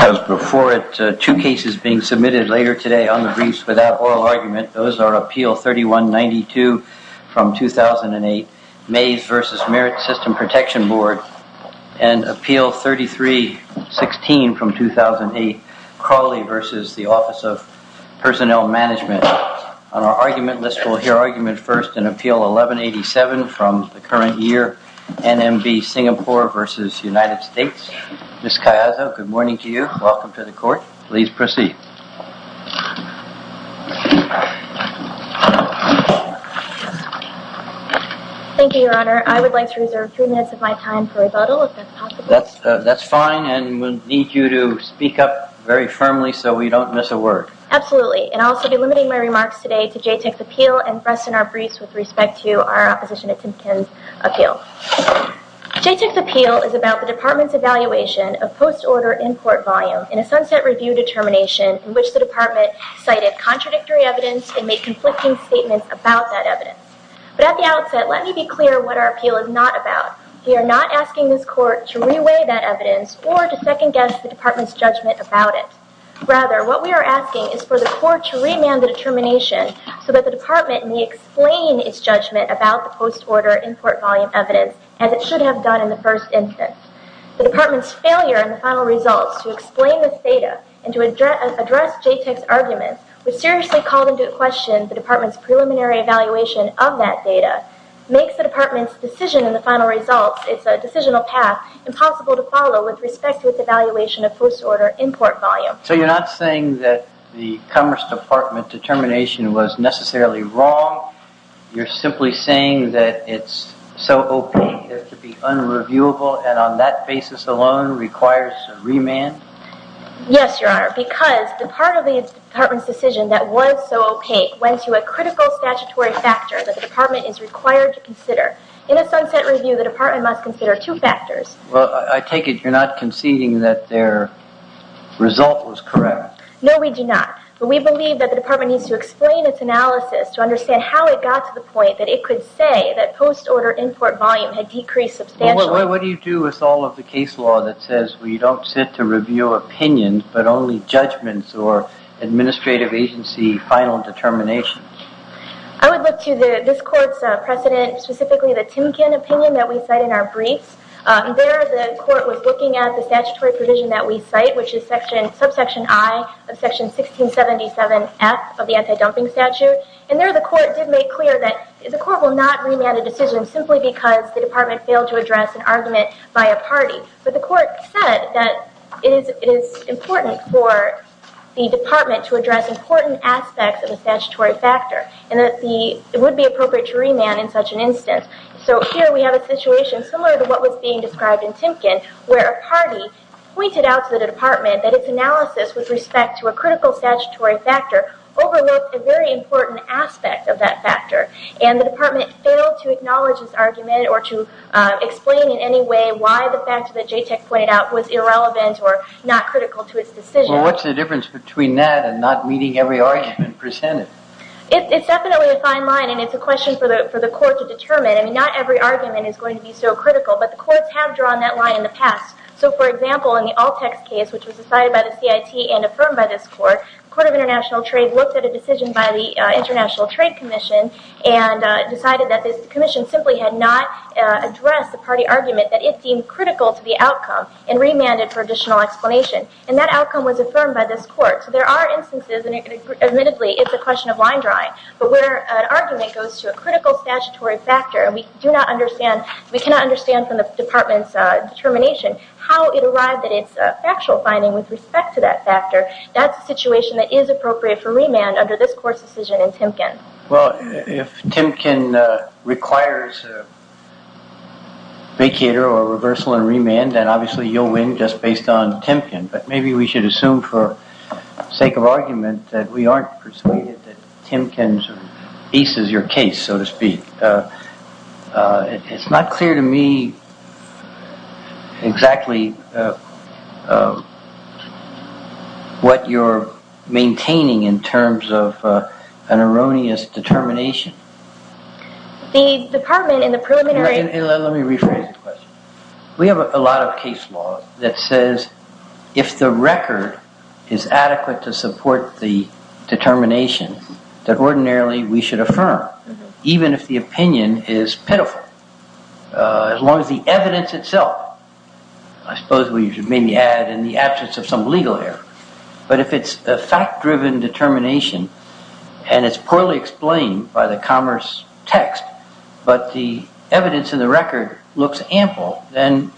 I was before it, two cases being submitted later today on the briefs without oral argument. Those are Appeal 3192 from 2008, Mays v. Merit System Protection Board and Appeal 3316 from 2008, Crawley v. the Office of Personnel Management. On our argument list, we'll hear argument first in Appeal 1187 from the current year, NMB Singapore v. United States. Ms. Kayaza, good morning to you. Welcome to the court. Please proceed. Thank you, Your Honor. I would like to reserve three minutes of my time for rebuttal, if that's possible. That's fine, and we'll need you to speak up very firmly so we don't miss a word. Absolutely, and I'll also be limiting my remarks today to JTIC's appeal and Breston R. Brees with respect to our opposition to Timpkin's appeal. JTIC's appeal is about the department's evaluation of post-order import volume in a sunset review determination in which the department cited contradictory evidence and made conflicting statements about that evidence. But at the outset, let me be clear what our appeal is not about. We are not asking this court to re-weigh that evidence or to second-guess the department's judgment about it. Rather, what we are asking is for the court to remand the determination so that the department may explain its judgment about the post-order import volume evidence as it should have done in the first instance. The department's failure in the final results to explain this data and to address JTIC's arguments, which seriously called into question the department's preliminary evaluation of that data, makes the department's decision in the final results, its decisional path, impossible to follow with respect to its evaluation of post-order import volume. So you're not saying that the Commerce Department determination was necessarily wrong? You're simply saying that it's so opaque it could be unreviewable and on that basis alone requires a remand? Yes, Your Honor, because the part of the department's decision that was so opaque went to a critical statutory factor that the department is required to consider. In a sunset review, the department must consider two factors. Well, I take it you're not conceding that their result was correct? No, we do not. But we believe that the department needs to explain its analysis to understand how it got to the point that it could say that post-order import volume had decreased substantially. What do you do with all of the case law that says we don't sit to review opinions, but only judgments or administrative agency final determinations? I would look to this court's precedent, specifically the Timken opinion that we cite in our briefs. There the court was looking at the statutory provision that we cite, which is subsection I of section 1677F of the anti-dumping statute. And there the court did make clear that the court will not remand a decision simply because the department failed to address an argument by a party. But the court said that it is important for the department to address important aspects of a statutory factor and that it would be appropriate to remand in such an instance. So here we have a situation similar to what was being described in Timken where a party pointed out to the department that its analysis with respect to a critical statutory factor overlooked a very important aspect of that factor. And the department failed to acknowledge this argument or to explain in any way why the fact that JTEC pointed out was irrelevant or not critical to its decision. Well, what's the difference between that and not meeting every argument presented? It's definitely a fine line and it's a question for the court to determine. I mean, not every argument is going to be so critical, but the courts have drawn that line in the past. So for example, in the Altex case, which was decided by the CIT and affirmed by this court, the Court of International Trade looked at a decision by the International Trade Commission and decided that this commission simply had not addressed the party argument that it seemed critical to the outcome and remanded for additional explanation. And that outcome was affirmed by this court. So there are instances, and admittedly it's a question of line drawing, but where an argument goes to a critical statutory factor, and we do not understand, we cannot understand from the department's determination how it arrived that it's a factual finding with respect to that factor, that's a situation that is appropriate for remand under this court's decision in Timken. Well, if Timken requires vacater or reversal in remand, then obviously you'll win just based on Timken. But maybe we should assume for sake of argument that we aren't persuaded that Timken's piece is your case, so to speak. It's not clear to me exactly what you're maintaining in terms of an erroneous determination. The department in the preliminary... Let me rephrase the question. We have a lot of case law that says if the record is adequate to support the determination, then ordinarily we should affirm, even if the opinion is pitiful, as long as the evidence itself, I suppose we should maybe add in the absence of some legal error, but if it's a fact-driven determination and it's poorly explained by the commerce text, but the evidence in the record looks ample, then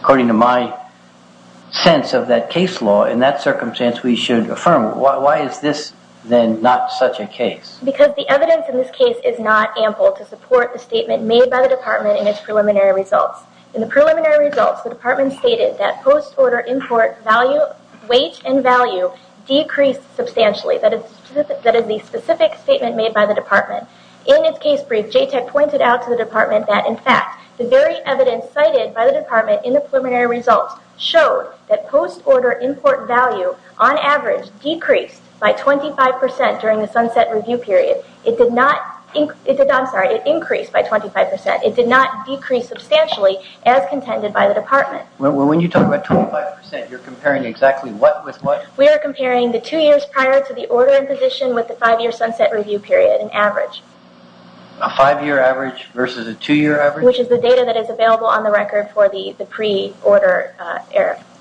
according to my sense of that case law, in that circumstance we should affirm. Why is this then not such a case? Because the evidence in this case is not ample to support the statement made by the department in its preliminary results. In the preliminary results, the department stated that post-order import weight and value decreased substantially. That is the specific statement made by the department. In its case brief, JTEC pointed out to the department that in fact the very evidence cited by the department in the preliminary results showed that post-order import value on average decreased by 25% during the sunset review period. It did not, I'm sorry, it increased by 25%. It did not decrease substantially as contended by the department. When you talk about 25%, you're comparing exactly what with what? We are comparing the two years prior to the order in position with the five-year sunset review period on average. A five-year average versus a two-year average? Which is the data that is available on the record for the pre-order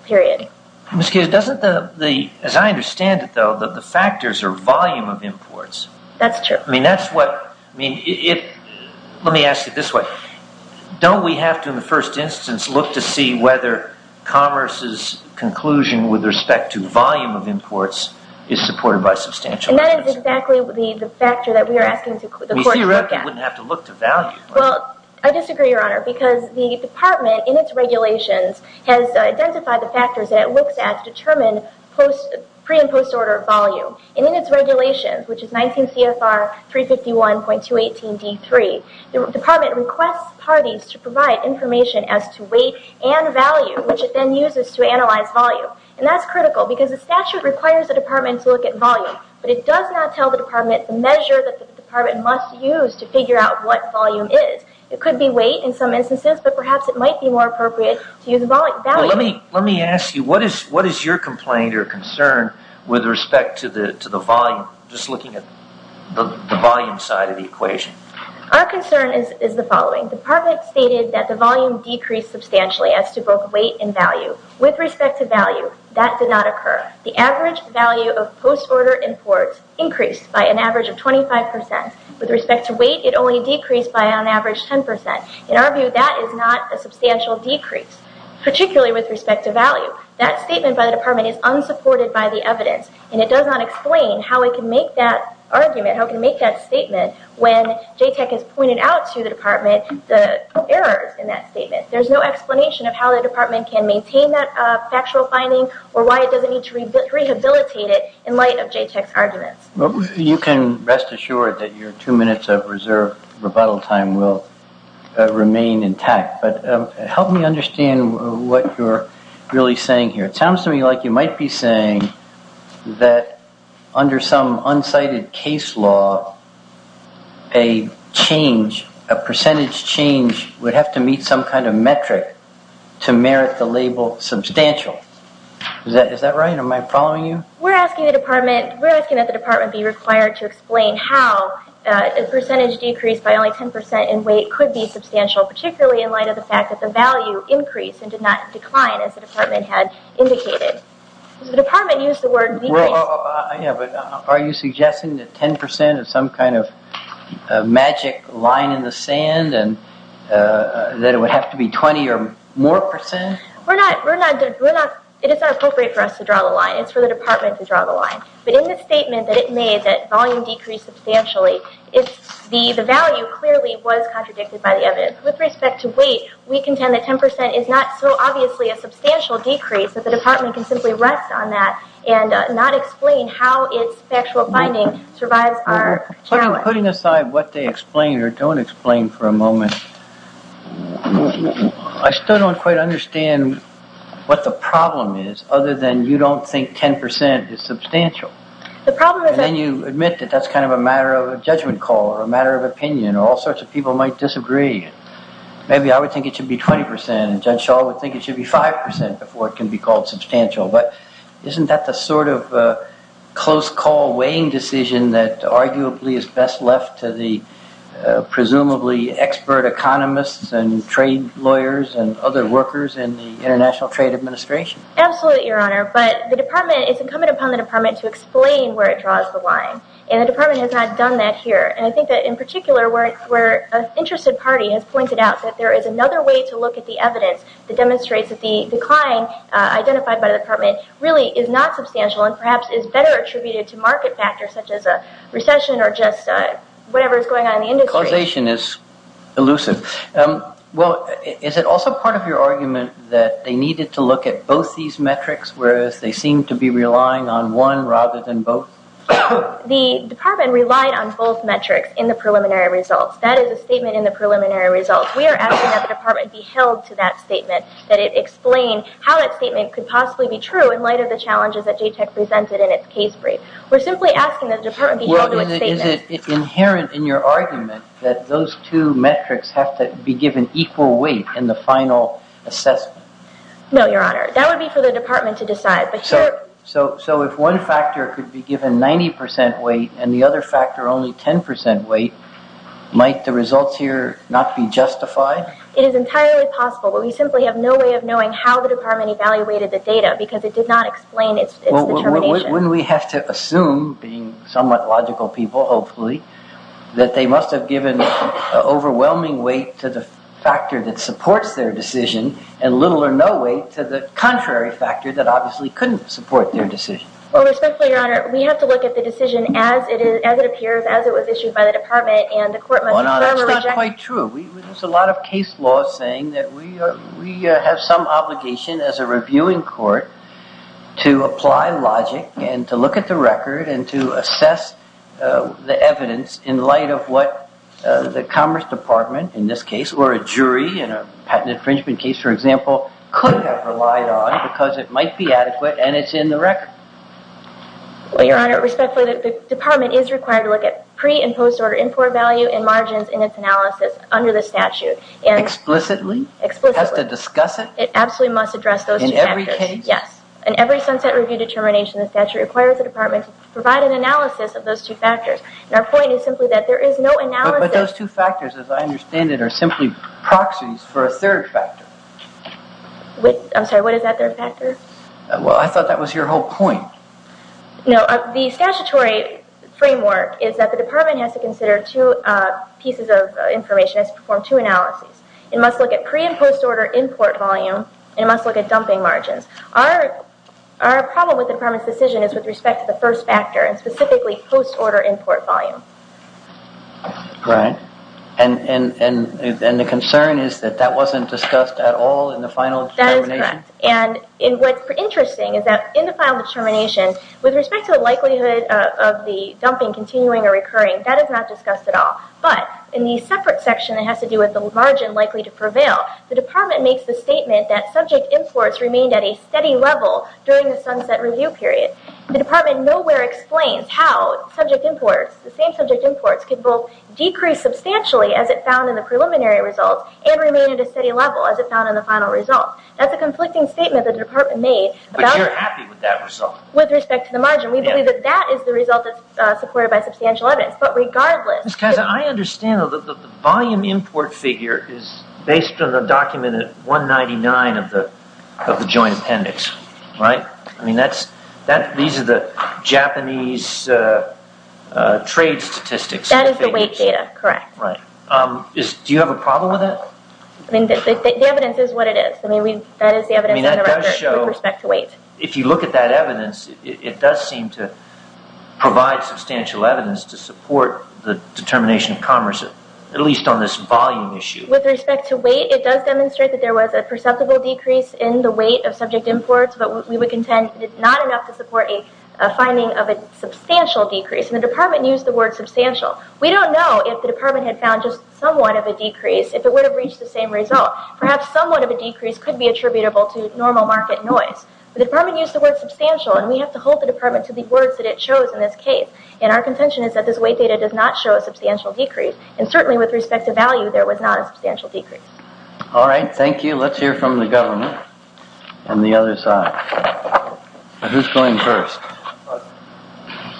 period. I'm just curious, doesn't the, as I understand it though, that the factors are volume of imports. That's true. I mean, that's what, I mean, let me ask it this way. Don't we have to in the first instance look to see whether commerce's conclusion with respect to volume of imports is supported by substantial... And that is exactly the factor that we are asking the court to look at. We see a record, we wouldn't have to look to value. Well, I disagree, Your Honor, because the department in its regulations has identified the factors that it looks at to determine pre- and post-order volume. And in its regulations, which is 19 CFR 351.218 D3, the department requests parties to provide information as to weight and value, which it then uses to analyze volume. And that's critical because the statute requires the department to look at volume, but it does not tell the department the measure that the department must use to figure out what volume is. It could be weight in some instances, but perhaps it might be more appropriate to use volume. Let me ask you, what is your complaint or concern with respect to the volume? Just looking at the volume side of the equation. Our concern is the following. The department stated that the volume decreased substantially as to both weight and value. With respect to value, that did not occur. The average value of post-order imports increased by an average of 25%. With respect to weight, it only decreased by an average 10%. In our view, that is not a substantial decrease. Particularly with respect to value. That statement by the department is unsupported by the evidence, and it does not explain how it can make that argument, how it can make that statement when JTEC has pointed out to the department the errors in that statement. There's no explanation of how the department can maintain that factual finding or why it doesn't need to rehabilitate it in light of JTEC's arguments. You can rest assured that your two minutes of reserved rebuttal time will remain intact. Help me understand what you're really saying here. It sounds to me like you might be saying that under some unsighted case law, a change, a percentage change would have to meet some kind of metric to merit the label substantial. Is that right? Am I following you? We're asking that the department be required to explain how a percentage decrease by only the fact that the value increased and did not decline as the department had indicated. The department used the word decrease. Are you suggesting that 10% is some kind of magic line in the sand and that it would have to be 20 or more percent? It is not appropriate for us to draw the line. It's for the department to draw the line. But in the statement that it made that volume decreased substantially, the value clearly was contradicted by the evidence. With respect to weight, we contend that 10% is not so obviously a substantial decrease that the department can simply rest on that and not explain how its factual finding survives our challenge. Putting aside what they explain or don't explain for a moment, I still don't quite understand what the problem is other than you don't think 10% is substantial. Then you admit that that's kind of a matter of a judgment call or a matter of opinion or all sorts of people might disagree. Maybe I would think it should be 20% and Judge Schall would think it should be 5% before it can be called substantial. But isn't that the sort of close call weighing decision that arguably is best left to the presumably expert economists and trade lawyers and other workers in the International Trade Administration? Absolutely, Your Honor. But the department, it's incumbent upon the department to explain where it draws the line. And the department has not done that here. And I think that in particular, where an interested party has pointed out that there is another way to look at the evidence that demonstrates that the decline identified by the department really is not substantial and perhaps is better attributed to market factors such as a recession or just whatever is going on in the industry. Causation is elusive. Well, is it also part of your argument that they needed to look at both these metrics whereas they seem to be relying on one rather than both? The department relied on both metrics in the preliminary results. That is a statement in the preliminary results. We are asking that the department be held to that statement, that it explain how that statement could possibly be true in light of the challenges that JTEC presented in its case brief. We're simply asking that the department be held to its statement. Well, is it inherent in your argument that those two metrics have to be given equal weight in the final assessment? No, Your Honor. That would be for the department to decide. So if one factor could be given 90% weight and the other factor only 10% weight, might the results here not be justified? It is entirely possible, but we simply have no way of knowing how the department evaluated the data because it did not explain its determination. Wouldn't we have to assume, being somewhat logical people hopefully, that they must have given overwhelming weight to the factor that supports their decision and little or no weight to the contrary factor that obviously couldn't support their decision? Well, respectfully, Your Honor, we have to look at the decision as it appears, as it was issued by the department, and the court must... Well, Your Honor, that's not quite true. There's a lot of case laws saying that we have some obligation as a reviewing court to apply logic and to look at the record and to assess the evidence in light of what the Commerce Department in this case or a jury in a patent infringement case, for example, could have relied on because it might be adequate and it's in the record. Well, Your Honor, respectfully, the department is required to look at pre- and post-order import value and margins in its analysis under the statute. Explicitly? Explicitly. It has to discuss it? It absolutely must address those two factors. In every case? Yes. In every Sunset Review determination, the statute requires the department to provide an analysis of those two factors. And our point is simply that there is no analysis... But those two factors, as I understand it, are simply proxies for a third factor. I'm sorry, what is that third factor? Well, I thought that was your whole point. No, the statutory framework is that the department has to consider two pieces of information, has to perform two analyses. It must look at pre- and post-order import volume and it must look at dumping margins. Our problem with the department's decision is with respect to the first factor and specifically post-order import volume. Right. And the concern is that that wasn't discussed at all in the final determination? That is correct. And what's interesting is that in the final determination, with respect to the likelihood of the dumping continuing or recurring, that is not discussed at all. But in the separate section that has to do with the margin likely to prevail, the department makes the statement that subject imports remained at a steady level during the Sunset Review period. The department nowhere explains how subject imports, the same subject imports, could both decrease substantially, as it found in the preliminary results, and remain at a steady level, as it found in the final result. That's a conflicting statement the department made. But you're happy with that result? With respect to the margin. We believe that that is the result that's supported by substantial evidence. But regardless... Ms. Kaza, I understand that the volume import figure is based on the documented 199 of the joint appendix, right? I mean, these are the Japanese trade statistics. That is the weight data, correct. Right. Do you have a problem with that? I mean, the evidence is what it is. I mean, that is the evidence in the record, with respect to weight. If you look at that evidence, it does seem to provide substantial evidence to support the determination of commerce, at least on this volume issue. With respect to weight, it does demonstrate that there was a perceptible decrease in the content, but not enough to support a finding of a substantial decrease. And the department used the word substantial. We don't know if the department had found just somewhat of a decrease, if it would have reached the same result. Perhaps somewhat of a decrease could be attributable to normal market noise. But the department used the word substantial, and we have to hold the department to the words that it chose in this case. And our contention is that this weight data does not show a substantial decrease. And certainly, with respect to value, there was not a substantial decrease. All right. Thank you. Let's hear from the government on the other side. Who's going first?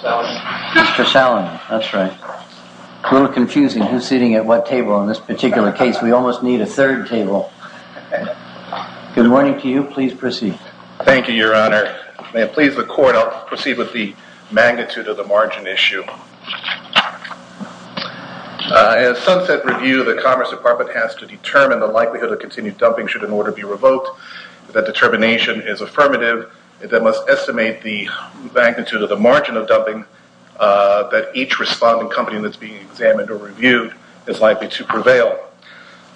Mr. Salomon. That's right. A little confusing who's sitting at what table in this particular case. We almost need a third table. Good morning to you. Please proceed. Thank you, Your Honor. May it please the court, I'll proceed with the magnitude of the margin issue. In a sunset review, the Commerce Department has to determine the likelihood of continued dumping should an order be revoked. That determination is affirmative. That must estimate the magnitude of the margin of dumping that each responding company that's being examined or reviewed is likely to prevail.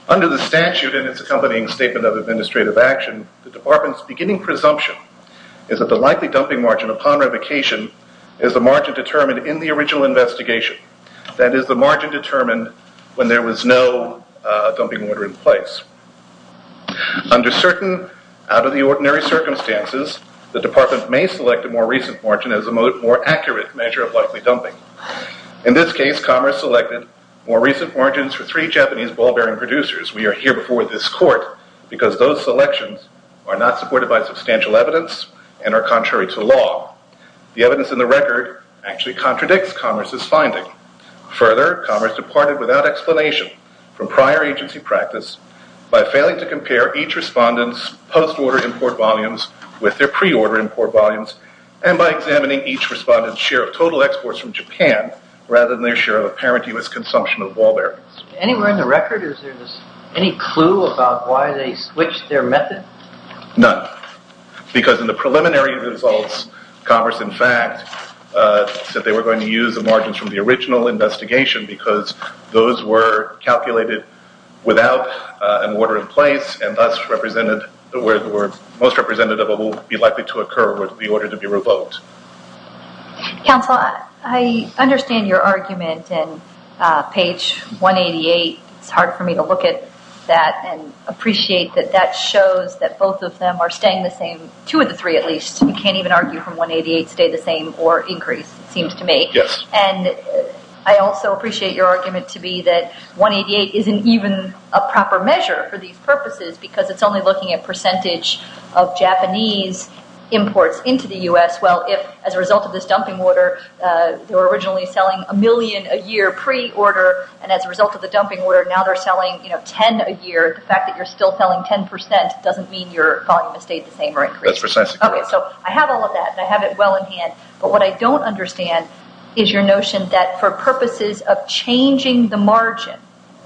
Under the statute and its accompanying statement of administrative action, the department's beginning presumption is that the likely dumping margin upon revocation is the margin determined in the original investigation. Under certain out of the ordinary circumstances, the department may select a more recent margin as a more accurate measure of likely dumping. In this case, Commerce selected more recent margins for three Japanese ball bearing producers. We are here before this court because those selections are not supported by substantial evidence and are contrary to law. The evidence in the record actually contradicts Commerce's finding. Further, Commerce departed without explanation from prior agency practice by failing to compare each respondent's post-order import volumes with their pre-order import volumes and by examining each respondent's share of total exports from Japan rather than their share of apparent US consumption of ball bearings. Anywhere in the record, is there any clue about why they switched their method? None, because in the preliminary results, Commerce, in fact, said they were going to use the margins from the original investigation because those were calculated without an order in place and thus represented where the most representative will be likely to occur with the order to be revoked. Counsel, I understand your argument in page 188. It's hard for me to look at that and appreciate that that shows that both of them are staying the same, two of the three at least. You can't even argue from 188 stay the same or increase, it seems to me. And I also appreciate your argument to be that 188 isn't even a proper measure for these purposes because it's only looking at percentage of Japanese imports into the US. Well, if as a result of this dumping order, they were originally selling a million a year pre-order and as a result of the dumping order, now they're selling 10 a year, the fact that you're still selling 10% doesn't mean your volume has stayed the same or increased. That's precisely correct. I have all of that and I have it well in hand, but what I don't understand is your notion that for purposes of changing the margin,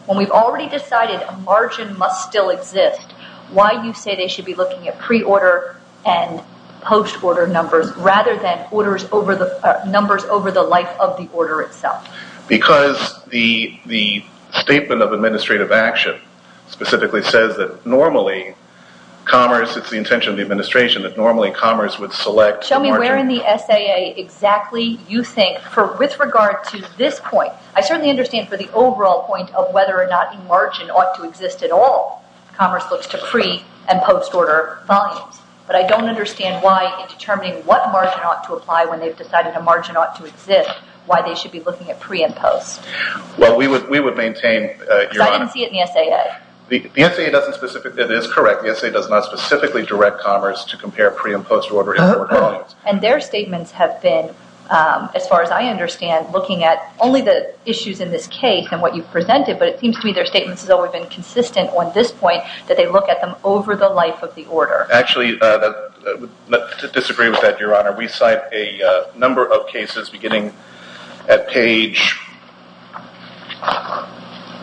when we've already decided a margin must still exist, why do you say they should be looking at pre-order and post-order numbers rather than numbers over the life of the order itself? Because the statement of administrative action specifically says that normally commerce, it's the intention of the administration, that normally commerce would select- Show me where in the SAA exactly you think for with regard to this point, I certainly understand for the overall point of whether or not a margin ought to exist at all. Commerce looks to pre and post-order volumes, but I don't understand why in determining what margin ought to apply when they've decided a margin ought to exist, why they should be looking at pre and post. Well, we would maintain- Because I didn't see it in the SAA. The SAA doesn't specifically, it is correct, the SAA does not specifically direct commerce to compare pre and post-order- And their statements have been, as far as I understand, looking at only the issues in this case and what you've presented, but it seems to me their statements have always been consistent on this point, that they look at them over the life of the order. Actually, to disagree with that, Your Honor, we cite a number of cases beginning at page-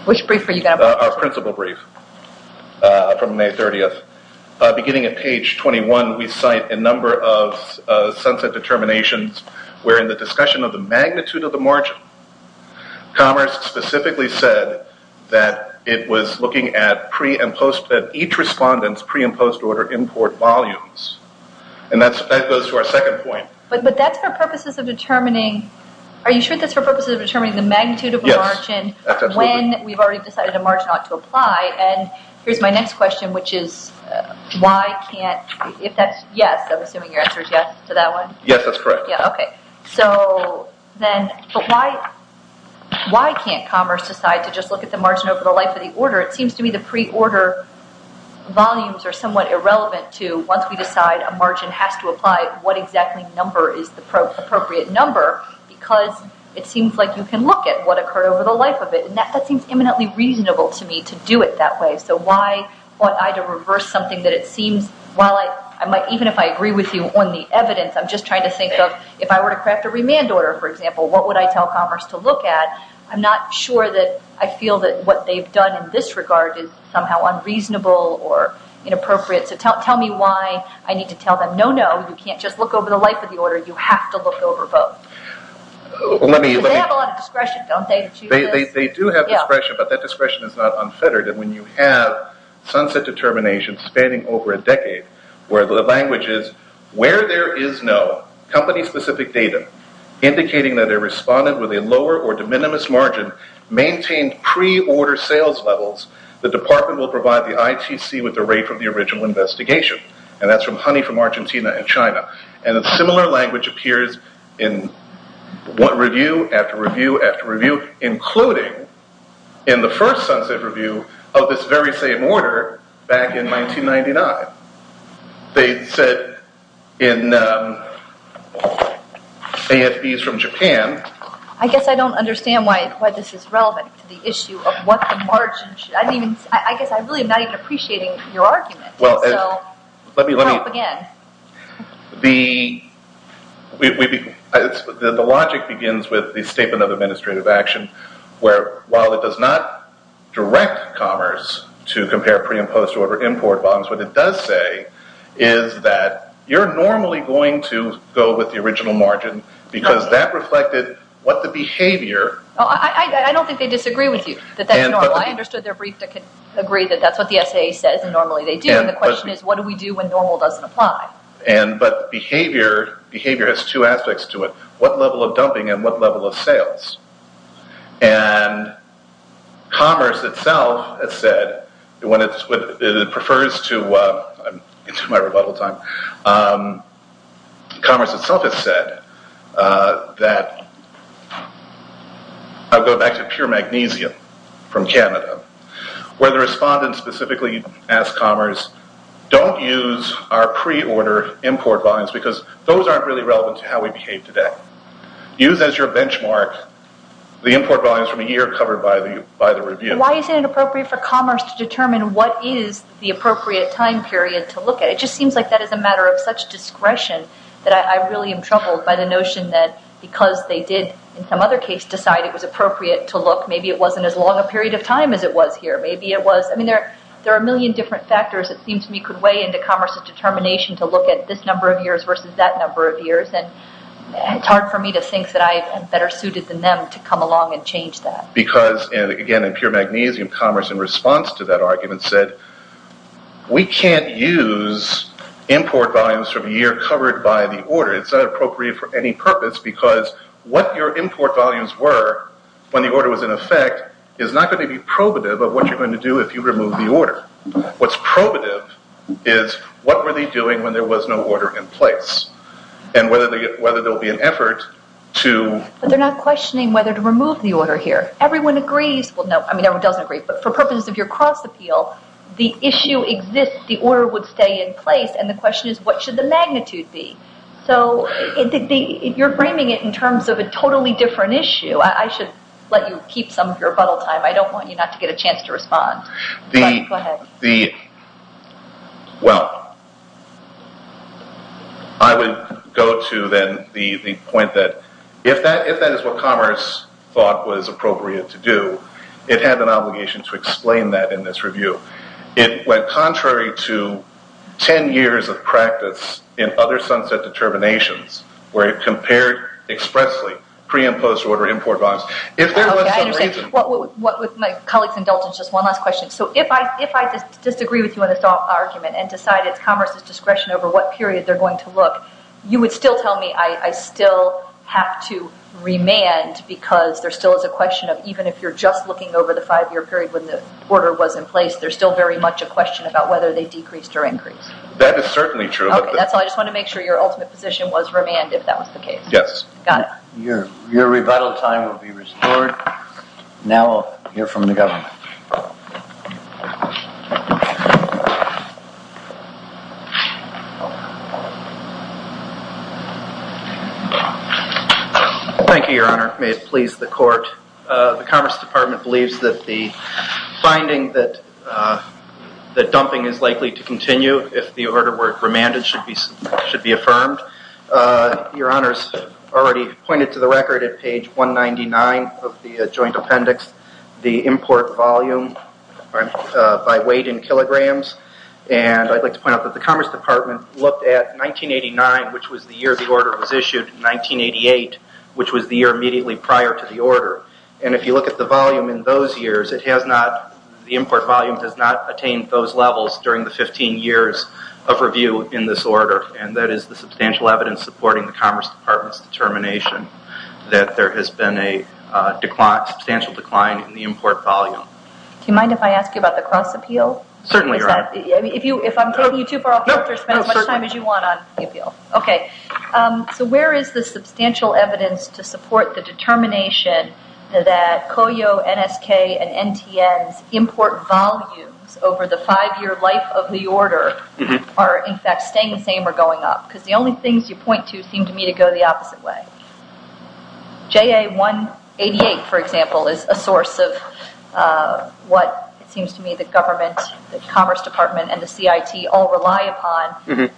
Which brief are you going to- Our principal brief from May 30th. Beginning at page 21, we cite a number of sunset determinations where in the discussion of the magnitude of the margin, commerce specifically said that it was looking at each respondent's pre and post-order import volumes, and that goes to our second point. But that's for purposes of determining, are you sure that's for purposes of determining the magnitude of a margin- Yes, that's absolutely- We've already decided a margin ought to apply, and here's my next question, which is, why can't, if that's, yes, I'm assuming your answer is yes to that one? Yes, that's correct. Yeah, okay. So then, but why can't commerce decide to just look at the margin over the life of the order? It seems to me the pre-order volumes are somewhat irrelevant to, once we decide a margin has to apply, what exactly number is the appropriate number, because it seems like you can look at what occurred over the life of it, and that seems eminently reasonable to me to do it that way. So why ought I to reverse something that it seems, even if I agree with you on the evidence, I'm just trying to think of, if I were to craft a remand order, for example, what would I tell commerce to look at? I'm not sure that I feel that what they've done in this regard is somehow unreasonable or inappropriate, so tell me why I need to tell them, no, no, you can't just look over the life of the order, you have to look over both. They have a lot of discretion, don't they? They do have discretion, but that discretion is not unfettered, and when you have sunset determination spanning over a decade, where the language is, where there is no company specific data indicating that a respondent with a lower or de minimis margin maintained pre-order sales levels, the department will provide the ITC with the rate from the original investigation, and that's from Honey from Argentina and China, and a similar language appears in one review, after review, after review, including in the first sunset review of this very same order back in 1999. They said in AFBs from Japan- I guess I don't understand why this is relevant to the issue of what the margin, I guess I'm really not even appreciating your argument, so help again. The logic begins with the statement of administrative action, where while it does not direct commerce to compare pre- and post-order import bonds, what it does say is that you're normally going to go with the original margin, because that reflected what the behavior- I don't think they disagree with you, that that's normal. I understood their brief to agree that that's what the SAA says, and normally they do, and the question is, what do we do when normal doesn't apply? But behavior has two aspects to it, what level of dumping and what level of sales, and commerce itself has said, when it prefers to- I'm into my rebuttal time- commerce itself has said that- I'll go back to pure magnesium from Canada, where the respondent specifically asked commerce, don't use our pre-order import bonds, because those aren't really relevant to how we behave today. Use as your benchmark the import bonds from a year covered by the review. Why is it inappropriate for commerce to determine what is the appropriate time period to look at? It just seems like that is a matter of such discretion that I really am troubled by the notion that because they did, in some other case, decide it was appropriate to look, maybe it wasn't as long a period of time as it was here. There are a million different factors, it seems to me, could weigh into commerce's determination to look at this number of years versus that number of years, and it's hard for me to think that I am better suited than them to come along and change that. Because, again, in pure magnesium, commerce in response to that argument said, we can't use import volumes from a year covered by the order. It's not appropriate for any purpose, because what your import volumes were when the order was in effect is not going to be probative of what you're going to do if you remove the order. What's probative is what were they doing when there was no order in place, and whether there will be an effort to... But they're not questioning whether to remove the order here. Everyone agrees, well, no, I mean, everyone doesn't agree, but for purposes of your cross appeal, the issue exists, the order would stay in place, and the question is, what should the magnitude be? So, you're framing it in terms of a totally different issue. I should let you keep some of your bottle time. I don't want you not to get a chance to respond. Go ahead. Well, I would go to then the point that if that is what commerce thought was appropriate to do, it had an obligation to explain that in this review. It went contrary to 10 years of practice in other sunset determinations, where it compared expressly pre-imposed order import bonds. If there was some reason... Okay, I understand. With my colleagues indulgence, just one last question. So, if I disagree with you on this argument and decide it's commerce's discretion over what period they're going to look, you would still tell me I still have to remand because there still is a question of, even if you're just looking over the five year period when the order was in place, there's still very much a question about whether they decreased or increased. That is certainly true. Okay, that's all. I just wanted to make sure your ultimate position was remand, if that was the case. Yes. Got it. Your rebuttal time will be restored. Now, I'll hear from the government. Thank you, Your Honor. May it please the court. The Commerce Department believes that the finding that dumping is likely to continue if the order were remanded should be affirmed. Your Honor's already pointed to the record at page 199 of the joint appendix, the import volume by weight in kilograms. I'd like to point out that the Commerce Department looked at 1989, which was the year the order was issued, and 1988, which was the year immediately prior to the order. If you look at the volume in those years, the import volume has not attained those levels during the 15 years of review in this order. That is the substantial evidence supporting the Commerce Department's determination that there has been a substantial decline in the import volume. Do you mind if I ask you about the cross appeal? Certainly, Your Honor. If I'm taking you too far off, you can spend as much time as you want on the appeal. Okay, so where is the substantial evidence to support the determination that COYO, NSK, and NTN's import volumes over the five year life of the order are, in fact, staying the same or going up? The only things you point to seem to me to go the opposite way. JA-188, for example, is a source of what it seems to me the government, the Commerce Department, and the CIT all rely upon.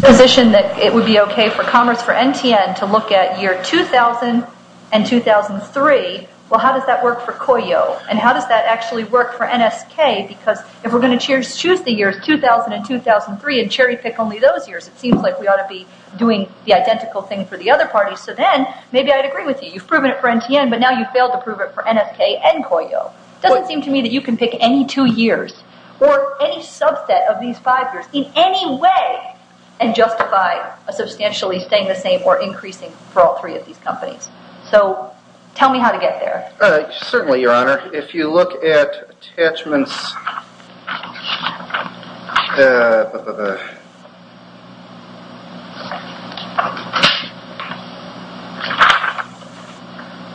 The position that it would be okay for Commerce for NTN to look at year 2000 and 2003, well, how does that work for COYO, and how does that actually work for NSK? Because if we're going to choose the years 2000 and 2003 and cherry pick only those years, it seems like we ought to be doing the identical thing for the other parties. So then, maybe I'd agree with you. You've proven it for NTN, but now you've failed to prove it for NSK and COYO. It doesn't seem to me that you can pick any two years or any subset of these five years in any way and justify a substantially staying the same or increasing for all three of these companies. So, tell me how to get there. Certainly, Your Honor. If you look at attachments...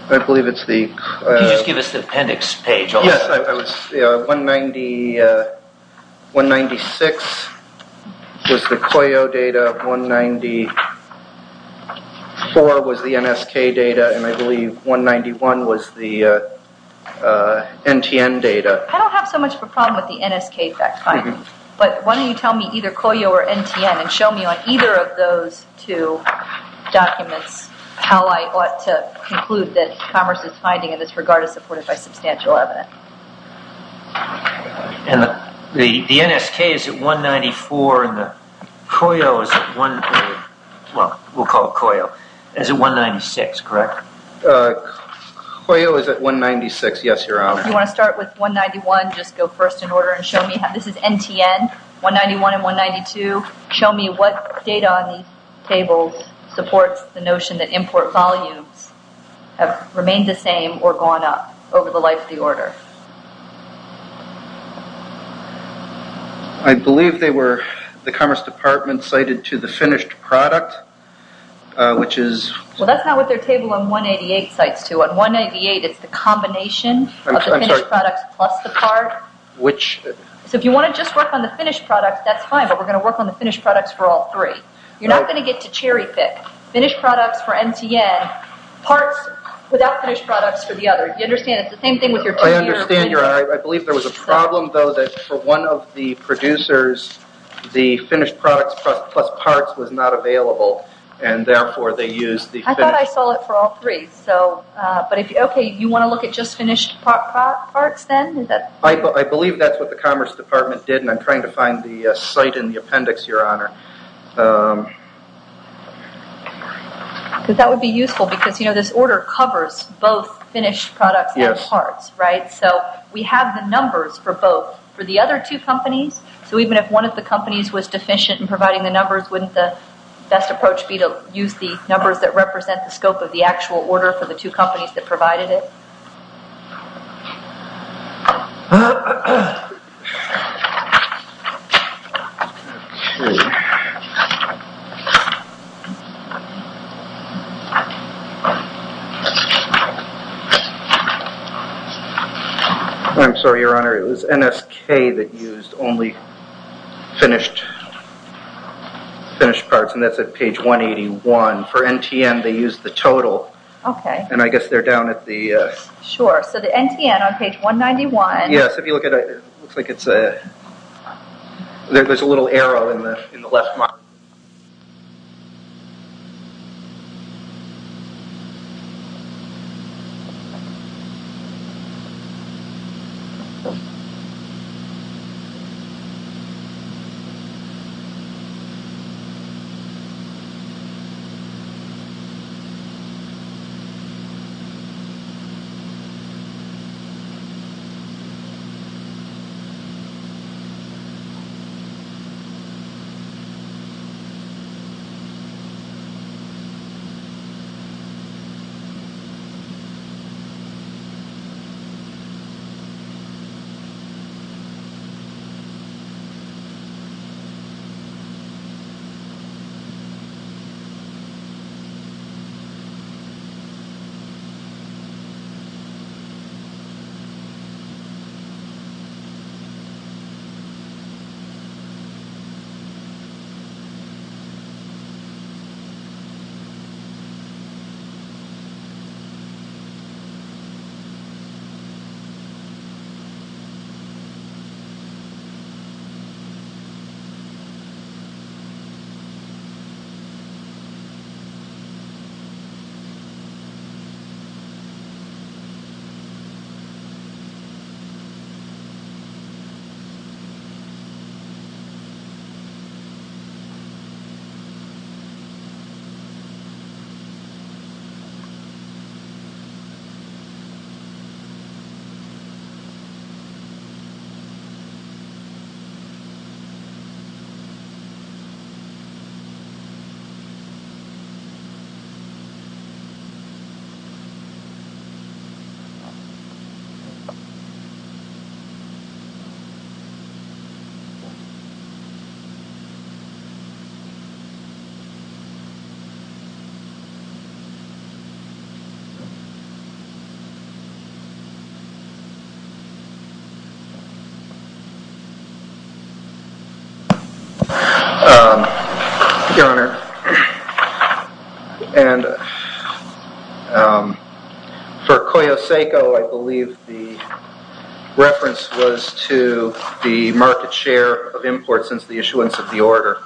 I believe it's the... Yes, 196 was the COYO data, 194 was the NSK data, and I believe 191 was the NTN data. I don't have so much of a problem with the NSK fact finding, but why don't you tell me either COYO or NTN and show me on either of those two documents how I ought to conclude that commerce is finding in this regard is supported by substantial evidence. And the NSK is at 194 and the COYO is at 196, correct? COYO is at 196, yes, Your Honor. If you want to start with 191, just go first in order and show me how this is NTN, 191 and 192. Show me what data on these tables supports the notion that import volumes have remained the same or gone up over the life of the order. I believe they were the Commerce Department cited to the finished product, which is... Well, that's not what their table on 188 cites to. On 188, it's the combination of the finished product plus the part. So, if you want to just work on the finished product, that's fine, but we're going to work on the finished products for all three. You're not going to get to cherry pick. Finished products for NTN, parts without finished products for the other. Do you understand? It's the same thing with your... I understand, Your Honor. I believe there was a problem, though, that for one of the producers, the finished products plus parts was not available, and therefore they used the finished... I thought I saw it for all three. Okay, you want to look at just finished parts then? I believe that's what the Commerce Department did, and I'm trying to find the site in the US, Your Honor. That would be useful because this order covers both finished products and parts, right? So, we have the numbers for both. For the other two companies, so even if one of the companies was deficient in providing the numbers, wouldn't the best approach be to use the numbers that represent the scope of the actual order for the two companies that provided it? Let's see. I'm sorry, Your Honor. It was NSK that used only finished parts, and that's at page 181. For NTN, they used the total, and I guess they're down at the... Sure. So, the NTN on page 191... Yes, if you look at it, it looks like there's a little arrow in the left. Okay. Okay. Okay. Your Honor, and for Koyoseco, I believe the reference... The reference was to the market share of imports since the issuance of the order,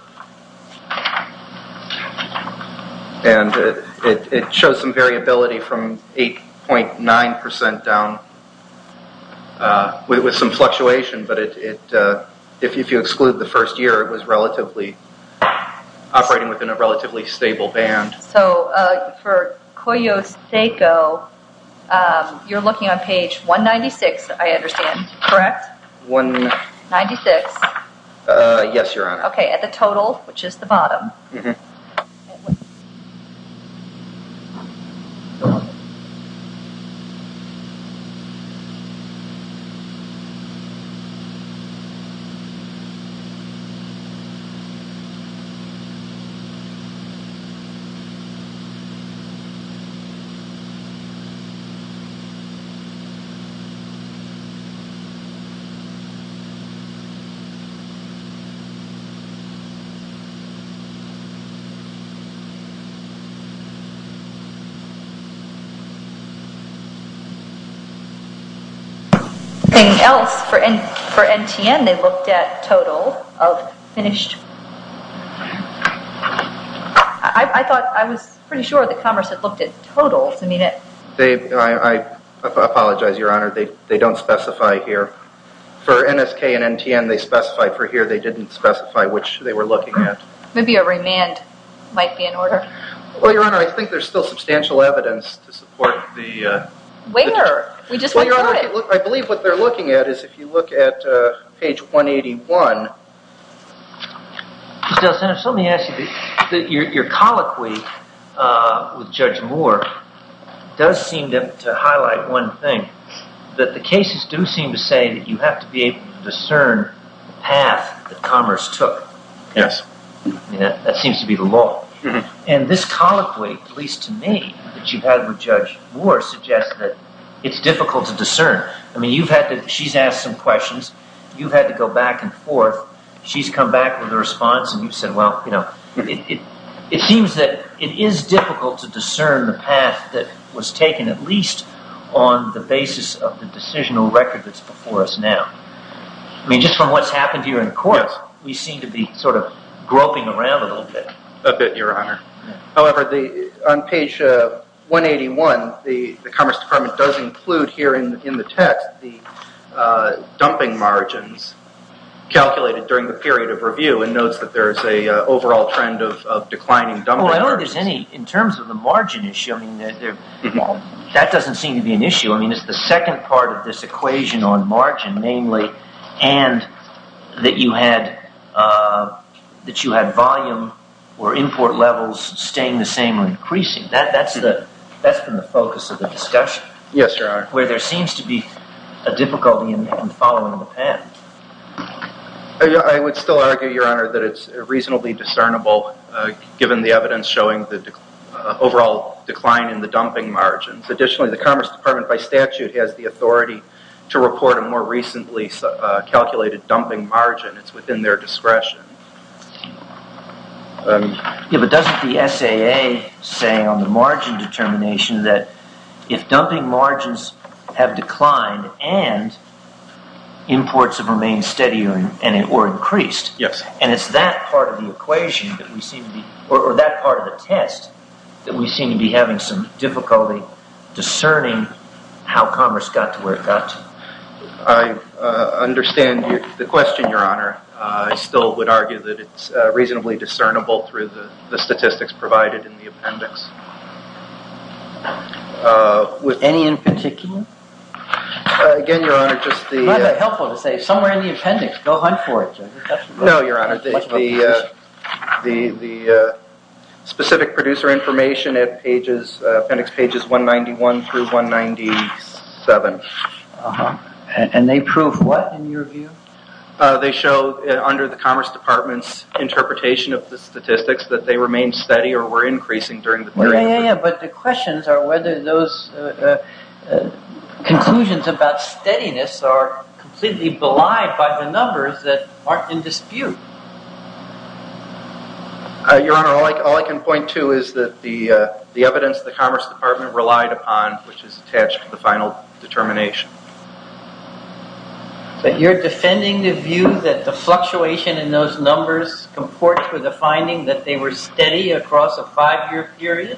and it shows some variability from 8.9% down with some fluctuation, but if you exclude the first year, it was relatively operating within a relatively stable band. So, for Koyoseco, you're looking on page 196, I understand, correct? 1996. Yes, Your Honor. Okay, at the total, which is the bottom. Okay, and then for NTN, they looked at total of finished... I thought... I was pretty sure the Commerce had looked at totals. I mean it... They... I apologize, Your Honor. They don't specify here. For NSK and NTN, they specify for here. They didn't specify which they were looking at. Maybe a remand might be in order. Well, Your Honor, I think there's still substantial evidence to support the... Where? We just... Well, Your Honor, I believe what they're looking at is if you look at page 181... Mr. DelSanto, let me ask you, your colloquy with Judge Moore does seem to highlight one thing. That the cases do seem to say that you have to be able to discern the path that Commerce took. Yes. That seems to be the law. And this colloquy, at least to me, that you've had with Judge Moore, suggests that it's difficult to discern. I mean, you've had to... She's asked some questions. You've had to go back and forth. She's come back with a response. And you've said, well, you know, it seems that it is difficult to discern the path that was taken, at least on the basis of the decisional record that's before us now. I mean, just from what's happened here in court, we seem to be sort of groping around a little bit. A bit, Your Honor. However, on page 181, the Commerce Department does include here in the text that the dumping margins calculated during the period of review and notes that there is an overall trend of declining dumping margins. Well, I don't think there's any, in terms of the margin issue, I mean, that doesn't seem to be an issue. I mean, it's the second part of this equation on margin, namely, and that you had volume or import levels staying the same or increasing. That's been the focus of the discussion. Yes, Your Honor. Where there seems to be a difficulty in following the path. I would still argue, Your Honor, that it's reasonably discernible, given the evidence showing the overall decline in the dumping margins. Additionally, the Commerce Department, by statute, has the authority to report a more recently calculated dumping margin. It's within their discretion. Yeah, but doesn't the SAA say on the margin determination that if dumping margins have declined and imports have remained steady or increased. Yes. And it's that part of the equation that we seem to be, or that part of the test, that we seem to be having some difficulty discerning how commerce got to where it got to. I understand the question, Your Honor. I still would argue that it's reasonably discernible through the statistics provided in the appendix. Any in particular? Again, Your Honor, just the… It's rather helpful to say, somewhere in the appendix. Go hunt for it. No, Your Honor. The specific producer information at appendix pages 191 through 197. And they prove what, in your view? They show, under the Commerce Department's interpretation of the statistics, that they remained steady or were increasing during the period. Yeah, yeah, yeah. But the questions are whether those conclusions about steadiness are completely belied by the numbers that aren't in dispute. Your Honor, all I can point to is that the evidence the Commerce Department relied upon, which is attached to the final determination. But you're defending the view that the fluctuation in those numbers comports with the finding that they were steady across a five-year period?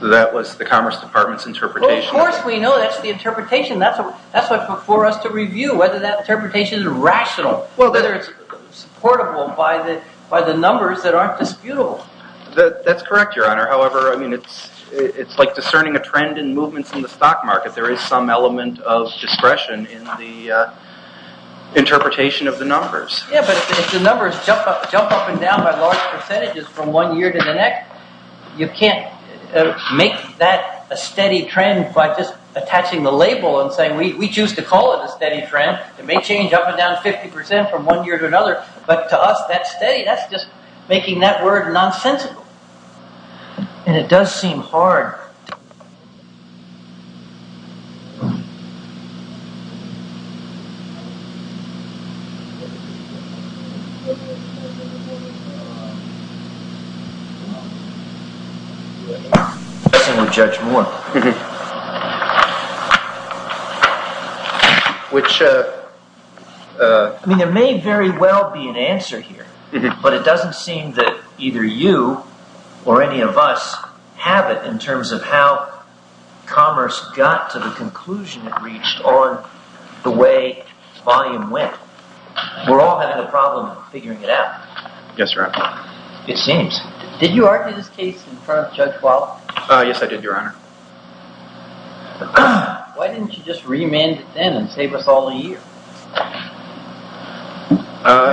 That was the Commerce Department's interpretation. Well, of course we know that's the interpretation. That's what's before us to review whether that interpretation is rational, whether it's supportable by the numbers that aren't disputable. That's correct, Your Honor. However, I mean, it's like discerning a trend in movements in the stock market. There is some element of discretion in the interpretation of the numbers. Yeah, but if the numbers jump up and down by large percentages from one year to the next, you can't make that a steady trend by just attaching the label and saying, we choose to call it a steady trend. It may change up and down 50 percent from one year to another. But to us, that steady, that's just making that word nonsensical. And it does seem hard... ...to judge more. Which... I mean, there may very well be an answer here. But it doesn't seem that either you or any of us have it in terms of how commerce got to the conclusion it reached on the way volume went. We're all having a problem figuring it out. Yes, Your Honor. It seems. Did you argue this case in front of Judge Waller? Yes, I did, Your Honor. Why didn't you just remand it then and save us all a year?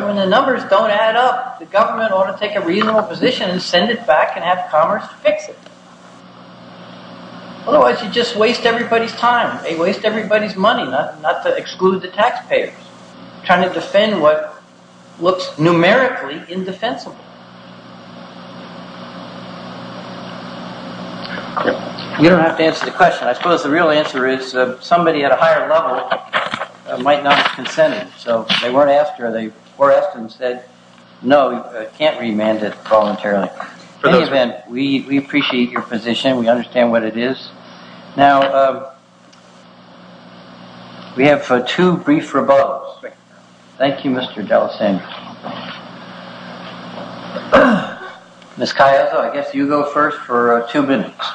When the numbers don't add up, the government ought to take a reasonable position and send it back and have commerce fix it. Otherwise, you just waste everybody's time. They waste everybody's money, not to exclude the taxpayers. Trying to defend what looks numerically indefensible. You don't have to answer the question. I suppose the real answer is somebody at a higher level might not have consented. So they weren't asked, or they were asked and said, no, you can't remand it voluntarily. In any event, we appreciate your position. We understand what it is. Now, we have two brief rebuttals. Thank you, Mr. D'Alessandro. Ms. Callejo, I guess you go first for two minutes.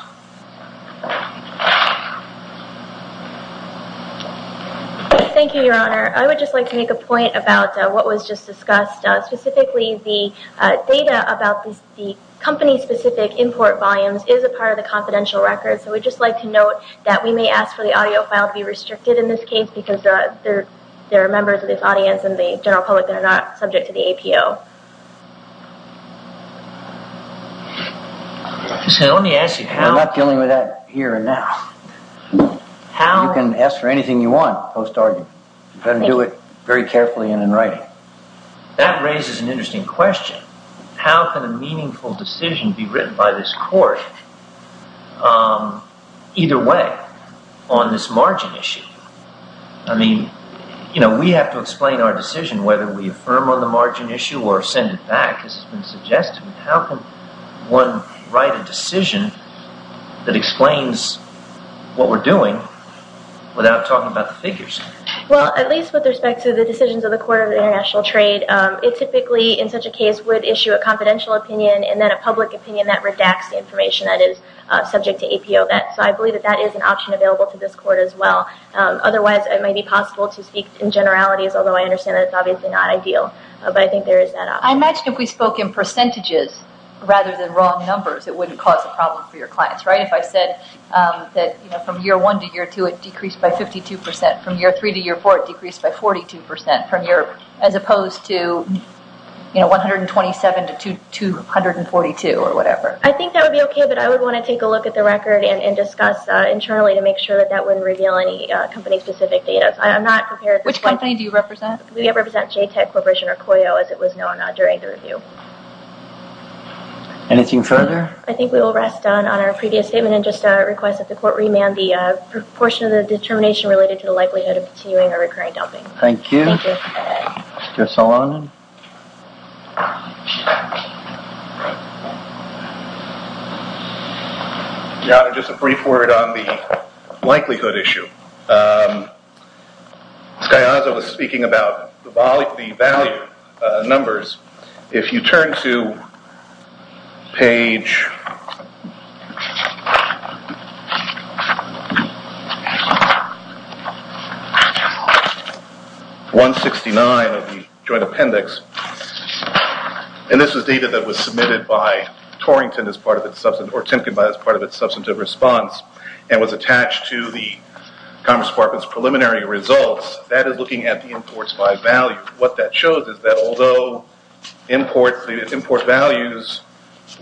Thank you, Your Honor. I would just like to make a point about what was just discussed. Specifically, the data about the company-specific import volumes is a part of the confidential records, so we'd just like to note that we may ask for the audio file to be restricted in this case because there are members of this audience and the general public that are not subject to the APO. I'm not dealing with that here and now. You can ask for anything you want post-argument. You've got to do it very carefully and in writing. That raises an interesting question. How can a meaningful decision be written by this court either way on this margin issue? I mean, you know, we have to explain our decision whether we affirm on the margin issue or send it back, as has been suggested. How can one write a decision that explains what we're doing without talking about the figures? Well, at least with respect to the decisions of the Court of International Trade, it typically, in such a case, would issue a confidential opinion and then a public opinion that redacts the information that is subject to APO. So I believe that that is an option available to this court as well. Otherwise, it may be possible to speak in generalities, although I understand that it's obviously not ideal. But I think there is that option. I imagine if we spoke in percentages rather than wrong numbers, it wouldn't cause a problem for your clients, right? If I said that from year one to year two it decreased by 52 percent, from year three to year four it decreased by 42 percent, as opposed to 127 to 242 or whatever. I think that would be okay, but I would want to take a look at the record and discuss internally to make sure that that wouldn't reveal any company-specific data. Which company do you represent? We represent JTEC Corporation or COYO as it was known during the review. Anything further? I think we will rest on our previous statement and just request that the court remand the portion of the determination related to the likelihood of continuing or recurring dumping. Thank you. Thank you. Mr. Salonen? Yeah, just a brief word on the likelihood issue. Skyazza was speaking about the value numbers. If you turn to page 169 of the joint appendix, and this was data that was submitted by Torrington or Timken as part of its substantive response and was attached to the Commerce Department's preliminary results, that is looking at the imports by value. What that shows is that although import values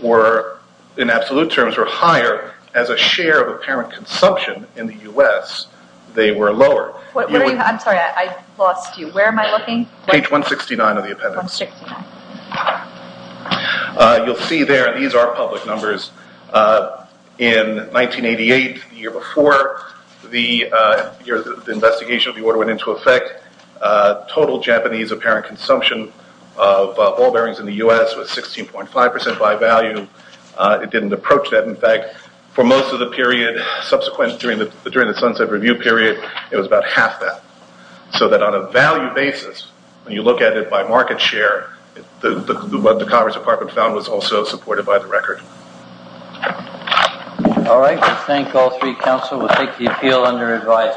were, in absolute terms, were higher as a share of apparent consumption in the U.S., they were lower. I'm sorry, I lost you. Where am I looking? Page 169 of the appendix. 169. You'll see there, these are public numbers. In 1988, the year before the investigation of the order went into effect, total Japanese apparent consumption of ball bearings in the U.S. was 16.5% by value. It didn't approach that. In fact, for most of the period subsequent during the sunset review period, it was about half that. So that on a value basis, when you look at it by market share, what the Commerce Department found was also supported by the record. All right. I thank all three counsel. We'll take the appeal under advice.